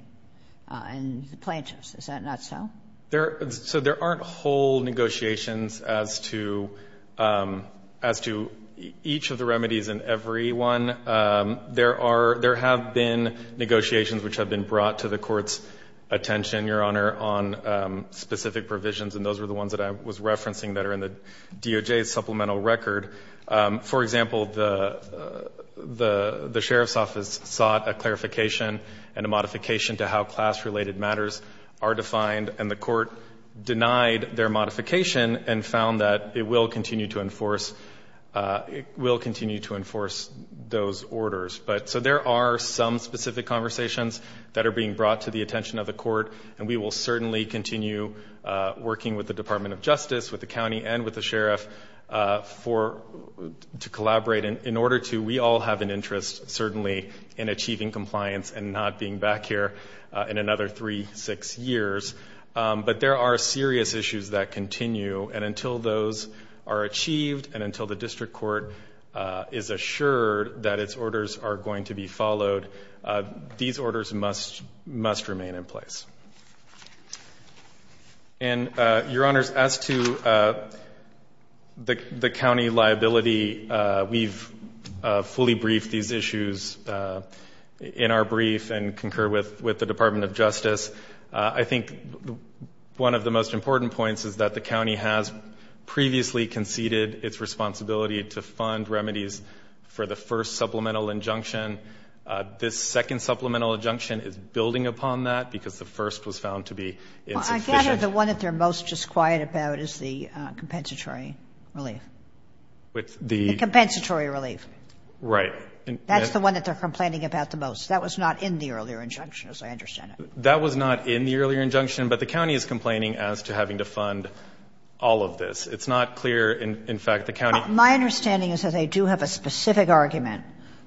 and the plaintiffs. Is that not so? So there aren't whole negotiations as to each of the remedies and every one. There have been negotiations which have been brought to the court's attention, Your Honor, on specific provisions, and those were the ones that I was referencing that are in the DOJ's supplemental record. For example, the sheriff's office sought a clarification and a modification to how class-related matters are defined, and the court denied their modification and found that it will continue to enforce those orders. So there are some specific conversations that are being brought to the attention of the court, and we will certainly continue working with the Department of Justice, with the county, and with the sheriff to collaborate. In order to, we all have an interest, certainly, in achieving compliance and not being back here in another three, six years. But there are serious issues that continue, and until those are achieved and until the district court is assured that its orders are going to be followed, these orders must remain in place. And, Your Honors, as to the county liability, we've fully briefed these issues in our brief and concur with the Department of Justice. I think one of the most important points is that the county has previously conceded its responsibility to fund remedies for the first supplemental injunction. This second supplemental injunction is building upon that because the first was found to be insufficient. Well, I gather the one that they're most disquiet about is the compensatory relief. With the... The compensatory relief. Right. That's the one that they're complaining about the most. That was not in the earlier injunction, as I understand it. That was not in the earlier injunction, but the county is complaining as to having to fund all of this. It's not clear, in fact, the county... My understanding is that they do have a specific argument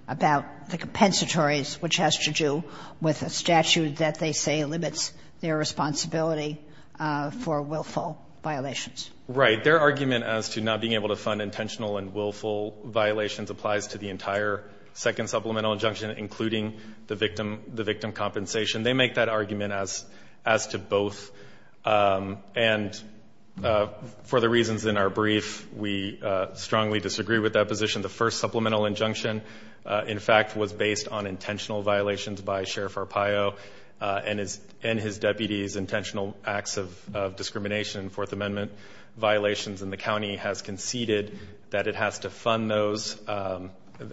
about the compensatories, which has to do with a statute that they say limits their responsibility for willful violations. Right. Their argument as to not being able to fund intentional and willful violations applies to the entire second supplemental injunction, including the victim compensation. They make that argument as to both. And for the reasons in our brief, we strongly disagree with that position. The first supplemental injunction, in fact, was based on intentional violations by Sheriff Arpaio and his deputies' intentional acts of discrimination in Fourth Amendment violations. And the county has conceded that it has to fund those...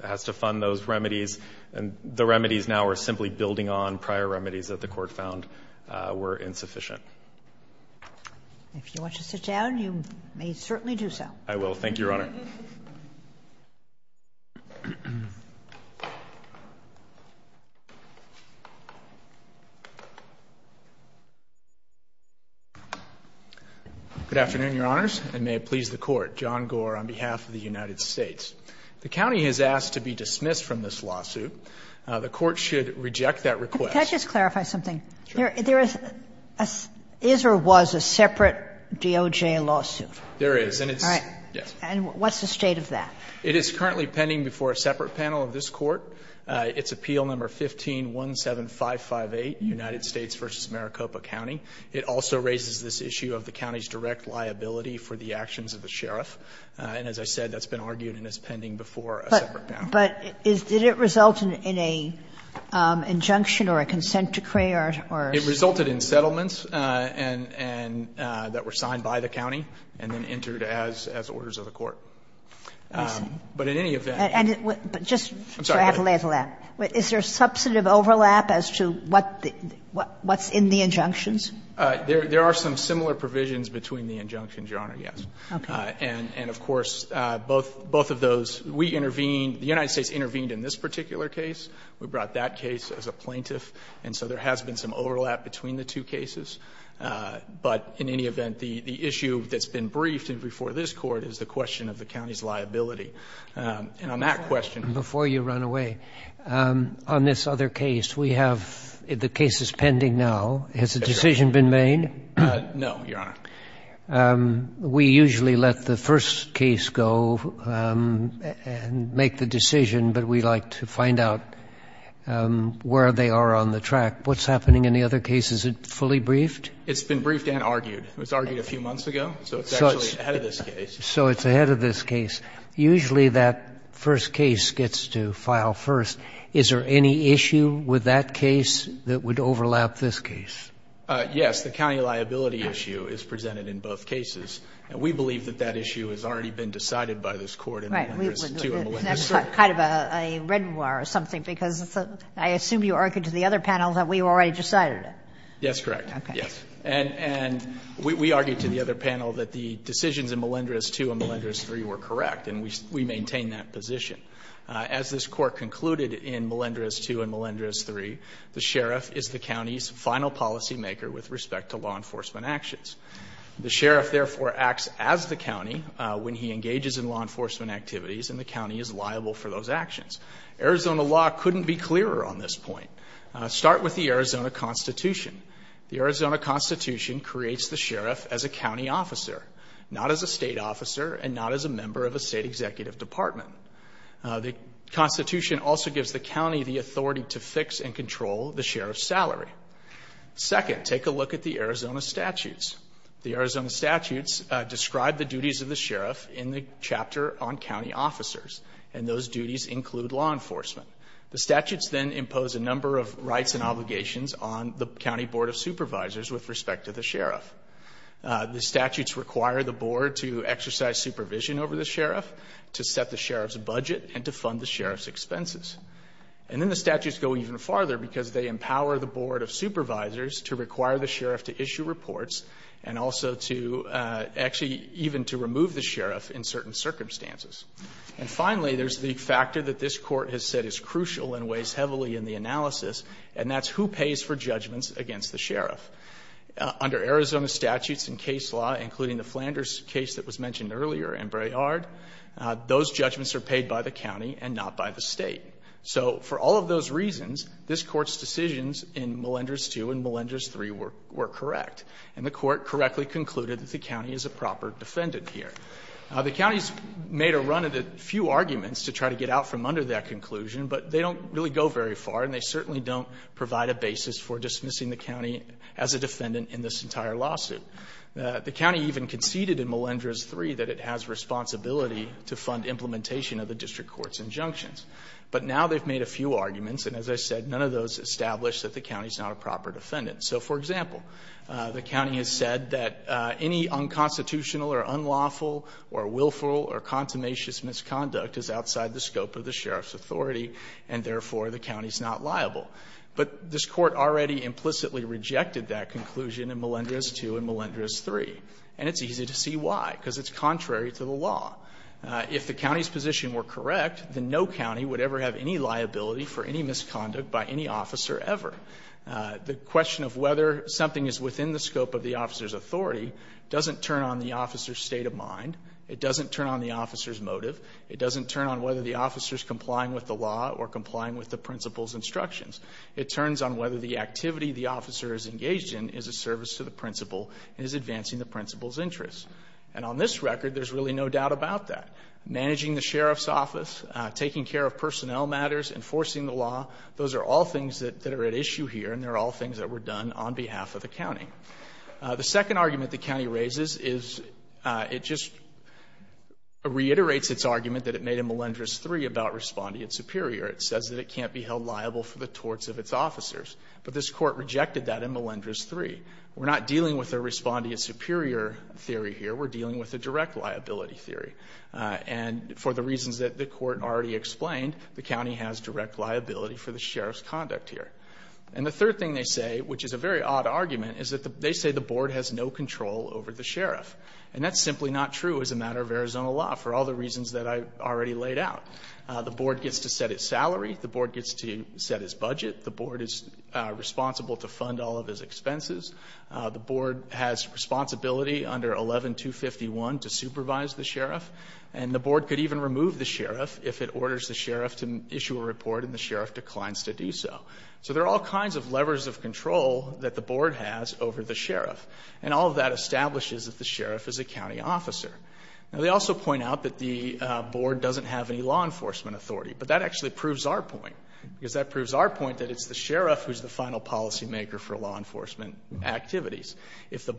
has to fund those remedies. And the remedies now are simply building on prior remedies that the court found were insufficient. If you want to sit down, you may certainly do so. I will. Thank you, Your Honor. Good afternoon, Your Honors. And may it please the Court. John Gore on behalf of the United States. The county has asked to be dismissed from this lawsuit. The Court should reject that request. Can I just clarify something? Sure. There is a... is or was a separate DOJ lawsuit? There is, and it's... All right. Yes. And what's the state of that? It is currently pending before a separate panel of this Court. It's Appeal No. 15-17558, United States v. Maricopa County. It also raises this issue of the county's direct liability for the actions of the Sheriff. And as I said, that's been argued and is pending before a separate panel. But did it result in an injunction or a consent decree or... It resulted in settlements that were signed by the county and then entered as orders of the Court. I see. But in any event... And just... I'm sorry. ...to add a little to that. Is there a substantive overlap as to what's in the injunctions? There are some similar provisions between the injunctions, Your Honor, yes. Okay. And of course, both of those... We intervened... The United States intervened in this particular case. We brought that case as a plaintiff. And so there has been some overlap between the two cases. But in any event, the issue that's been briefed before this Court is the question of the county's liability. And on that question... Before you run away, on this other case, we have... The case is pending now. Has a decision been made? No, Your Honor. We usually let the first case go and make the decision, but we like to find out where they are on the track. What's happening in the other case? Is it fully briefed? It's been briefed and argued. It was argued a few months ago, so it's actually ahead of this case. So it's ahead of this case. Usually that first case gets to file first. Is there any issue with that case that would overlap this case? Yes. The county liability issue is presented in both cases. And we believe that that issue has already been decided by this Court in Melendez II and Melendez III. Right. That's kind of a red war or something because I assume you argued to the other panel that we already decided it. Yes, correct. Okay. And we argued to the other panel that the decisions in Melendez II and Melendez III were correct and we maintain that position. As this Court concluded in Melendez II and Melendez III, the sheriff is the county's final policymaker with respect to law enforcement actions. The sheriff, therefore, acts as the county when he engages in law enforcement activities and the county is liable for those actions. Arizona law couldn't be clearer on this point. Start with the Arizona Constitution. The Arizona Constitution creates the sheriff as a county officer, not as a state officer and not as a member of a state executive department. The Constitution also gives the county the authority to fix and control the sheriff's salary. Second, take a look at the Arizona statutes. The Arizona statutes describe the duties of the sheriff in the chapter on county officers and those duties include law enforcement. The statutes then impose a number of rights and obligations on the county police and the county board of supervisors with respect to the sheriff. The statutes require the board to exercise supervision over the sheriff, to set the sheriff's budget, and to fund the sheriff's expenses. And then the statutes go even farther because they empower the board of supervisors to require the sheriff to issue reports and also to actually even to remove the sheriff in certain circumstances. And finally, there's the factor that this court has said is crucial and weighs heavily in the analysis and that's who pays for judgments against the sheriff. Under Arizona statutes and case law including the Flanders case that was mentioned earlier and Brayard, those judgments are paid by the county and not by the state. So, for all of those reasons, this court's decisions in Melenders 2 and Melenders 3 were correct. And the court correctly concluded that the county is a proper defendant here. The county's made a run at a few arguments to try to get out from under that conclusion, but they don't really go very far and they certainly don't provide a basis for dismissing the county as a defendant in this entire lawsuit. The county even conceded in Melenders 3 that it has responsibility to fund implementation of the district court's injunctions. But now they've made a few arguments and as I said none of those established that the county is not a proper defendant. So, for example, the county has said that any unconstitutional or unlawful or willful or consummation misconduct is outside the scope of the sheriff's authority and therefore the county is not liable. But this court already implicitly rejected that conclusion in Melenders 2 and Melenders 3 and it's easy to see why because it's contrary to the law. If the county's position were correct then no county would ever have any liability for any misconduct by any officer ever. The question of whether something is within the scope of the officer's authority doesn't turn on the officer's state of mind, it doesn't turn on the officer's motive, it doesn't turn on whether the officer's complying with the law or complying with the principal's instructions. It turns on whether the activity the officer is engaged in is a service to the principal and is not a large liability to the principal. The consultant would tell that the deputy would treat this entry a risk or disadvantage in the service and the responsibility either to the principal or to the principal or to the principal which in their judgment is that the board has no control over the sheriff. The sheriff is a county officer. They also point out that the board doesn't have any law enforcement authority. That proves our point. If the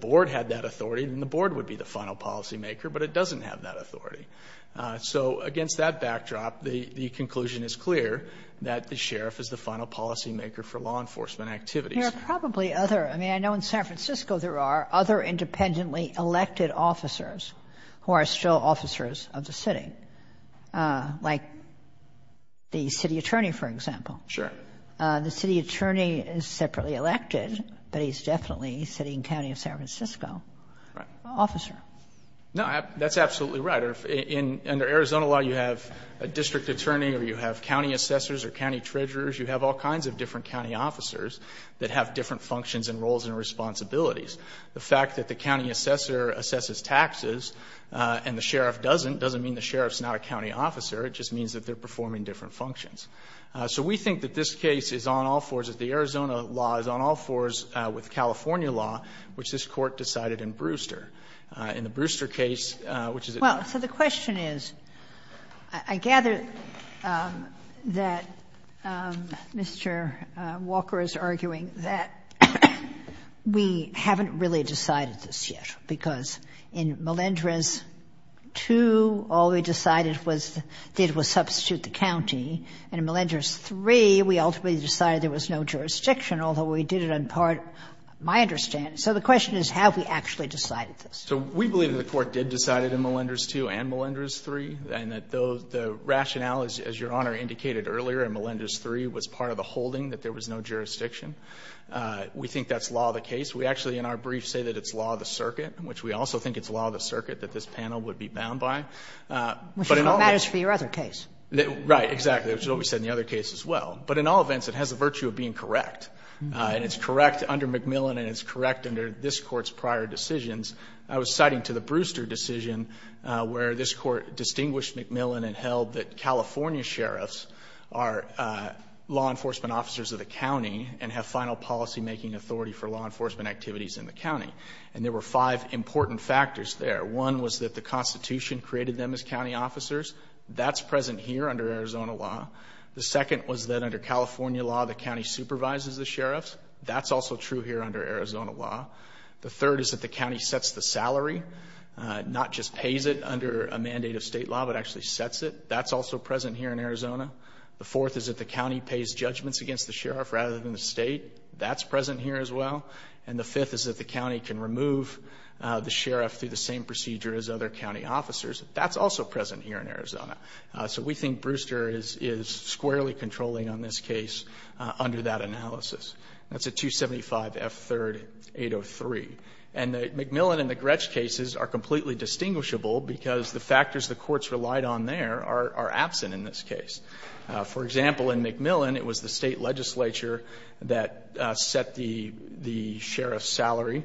board had that authority, then the board would be the final policy maker, but it doesn't have that authority. Against that backdrop, the conclusion is clear that the sheriff is the final policy maker for law enforcement activities. I know in San Francisco there are other independently elected officers who are still officers of the city, like the city attorney, for example. The city attorney a county officer. Under Arizona law you have a district attorney, or you have county assessors or county treasurers. You have all kinds of different county officers that have different functions and roles and responsibilities. The fact that the county assessor assesses taxes and the sheriff doesn't doesn't mean the sheriff is not a county officer, it just means that they are performing different functions. So we think that this case is on all fours, that the Arizona law is on all fours with California law, which this Court decided in Malinders 2, all we decided was to substitute the county and in Malinders 3 we ultimately decided there was no jurisdiction although we did it in part my understanding. So the question is have we actually decided this? So we believe that the Court has made a decision where this Court distinguished McMillan and held that California sheriffs are law enforcement officers of the county and have final policy making authority for law enforcement activities in the county. And there were five important factors there. One was that the Constitution created them as county officers. That's present here under Arizona law. The second was that under California law the county supervises the sheriffs. That's also true here under Arizona law. The third is that the county sets the salary, not just pays it under a mandate of state law but actually sets it. That's also present here in Arizona. So we think Brewster is squarely controlling on this case under that analysis. That's a 275F3803. And the McMillan and the Gretsch cases are completely distinguishable because the factors the courts relied on there are absent in this case. For example, in McMillan it was the state legislature that set the salary. It was the state state officer.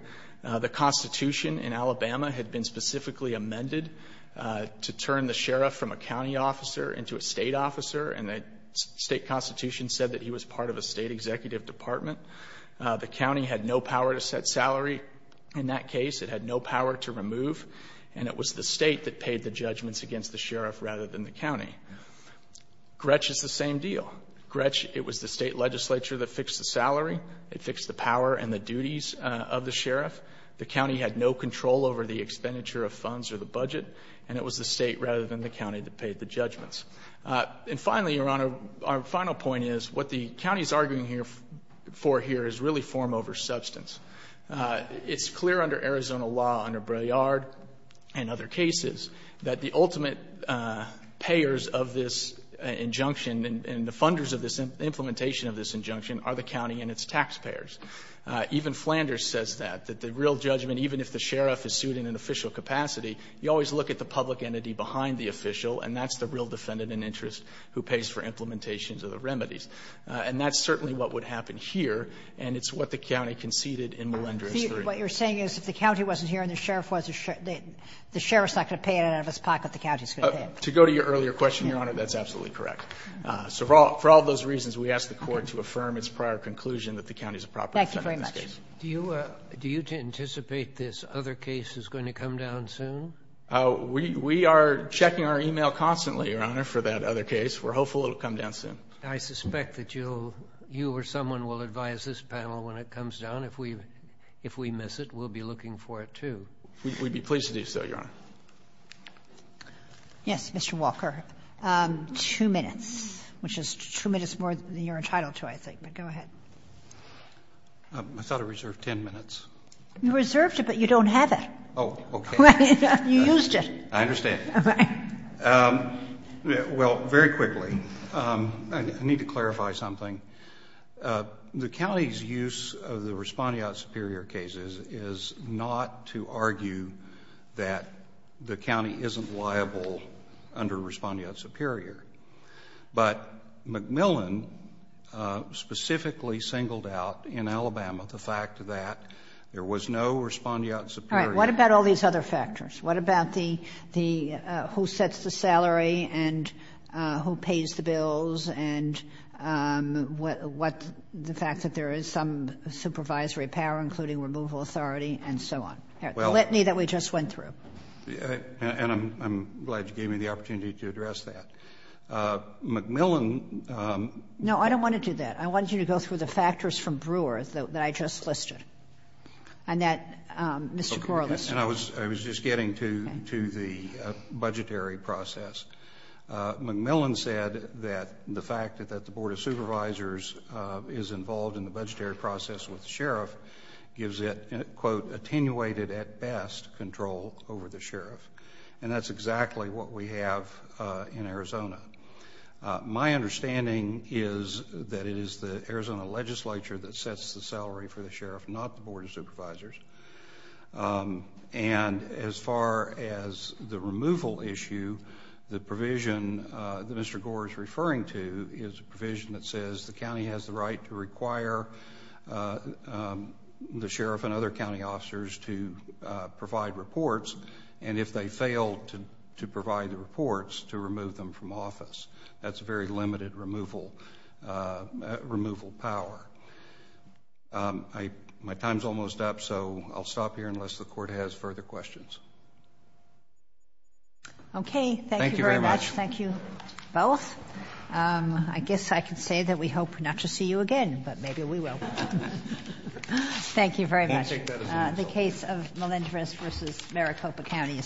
The state constitution said he was part of a state executive department. The county had no power to set It was the state legislature and the county that paid the judgments. And finally, Your Honor, our final point is what the county is arguing for here is really form over substance. It's clear under this injunction the county and its taxpayers. Even Flanders says that the real judgment, even if the sheriff is sued in an official capacity, you always look at the public entity behind the official and that's the real defendant in interest who is real defendant. We ask the court to affirm its prior conclusion. Do you anticipate this other case is going to come down soon? We are checking our e-mail constantly for that other case. I suspect you or someone will advise this panel when it comes up. We would be pleased to do so, Your Honor. Yes, Mr. Walker. Two minutes, which is two minutes more than you're entitled to, I think. Go ahead. I thought I reserved 10 minutes. You reserved it, but you don't have it. You used it. I understand. Well, very quickly, I need to clarify something. The county's use of the Respondiat Superior cases is not to argue that the county isn't liable under Respondiat Superior, but McMillan specifically singled out in Alabama the fact that there was no Respondiat Superior. All right. What about all these other factors? What about the who sets the salary and who pays the bills and what the fact that there is some supervisory power, including removal authority, and so on? The litany that we just went through. And I'm glad you gave me the opportunity to address that. McMillan No, I don't want to do that. I want you to go through the factors from Brewer that I just listed. And I was just getting to the budgetary process. McMillan said that the fact that the Board of Supervisors is involved in the budgetary process with the sheriff gives it quote attenuated at best control over the sheriff. And that's exactly what we have in Arizona. My understanding is that it is the Arizona legislature that sets the salary for the sheriff, not the Board of Supervisors. And as far as the removal issue, the sheriff and other county officers to provide reports, and if they fail to provide the reports, to remove them from office. That's very limited removal power. My time is almost up, so I'll stop here unless the Court has further questions. Okay. Thank you very much. Thank you both. I guess I can say that we hope not to see you again, but maybe we will. Thank you very much. The case of Melendrez v. Maricopa County is submitted.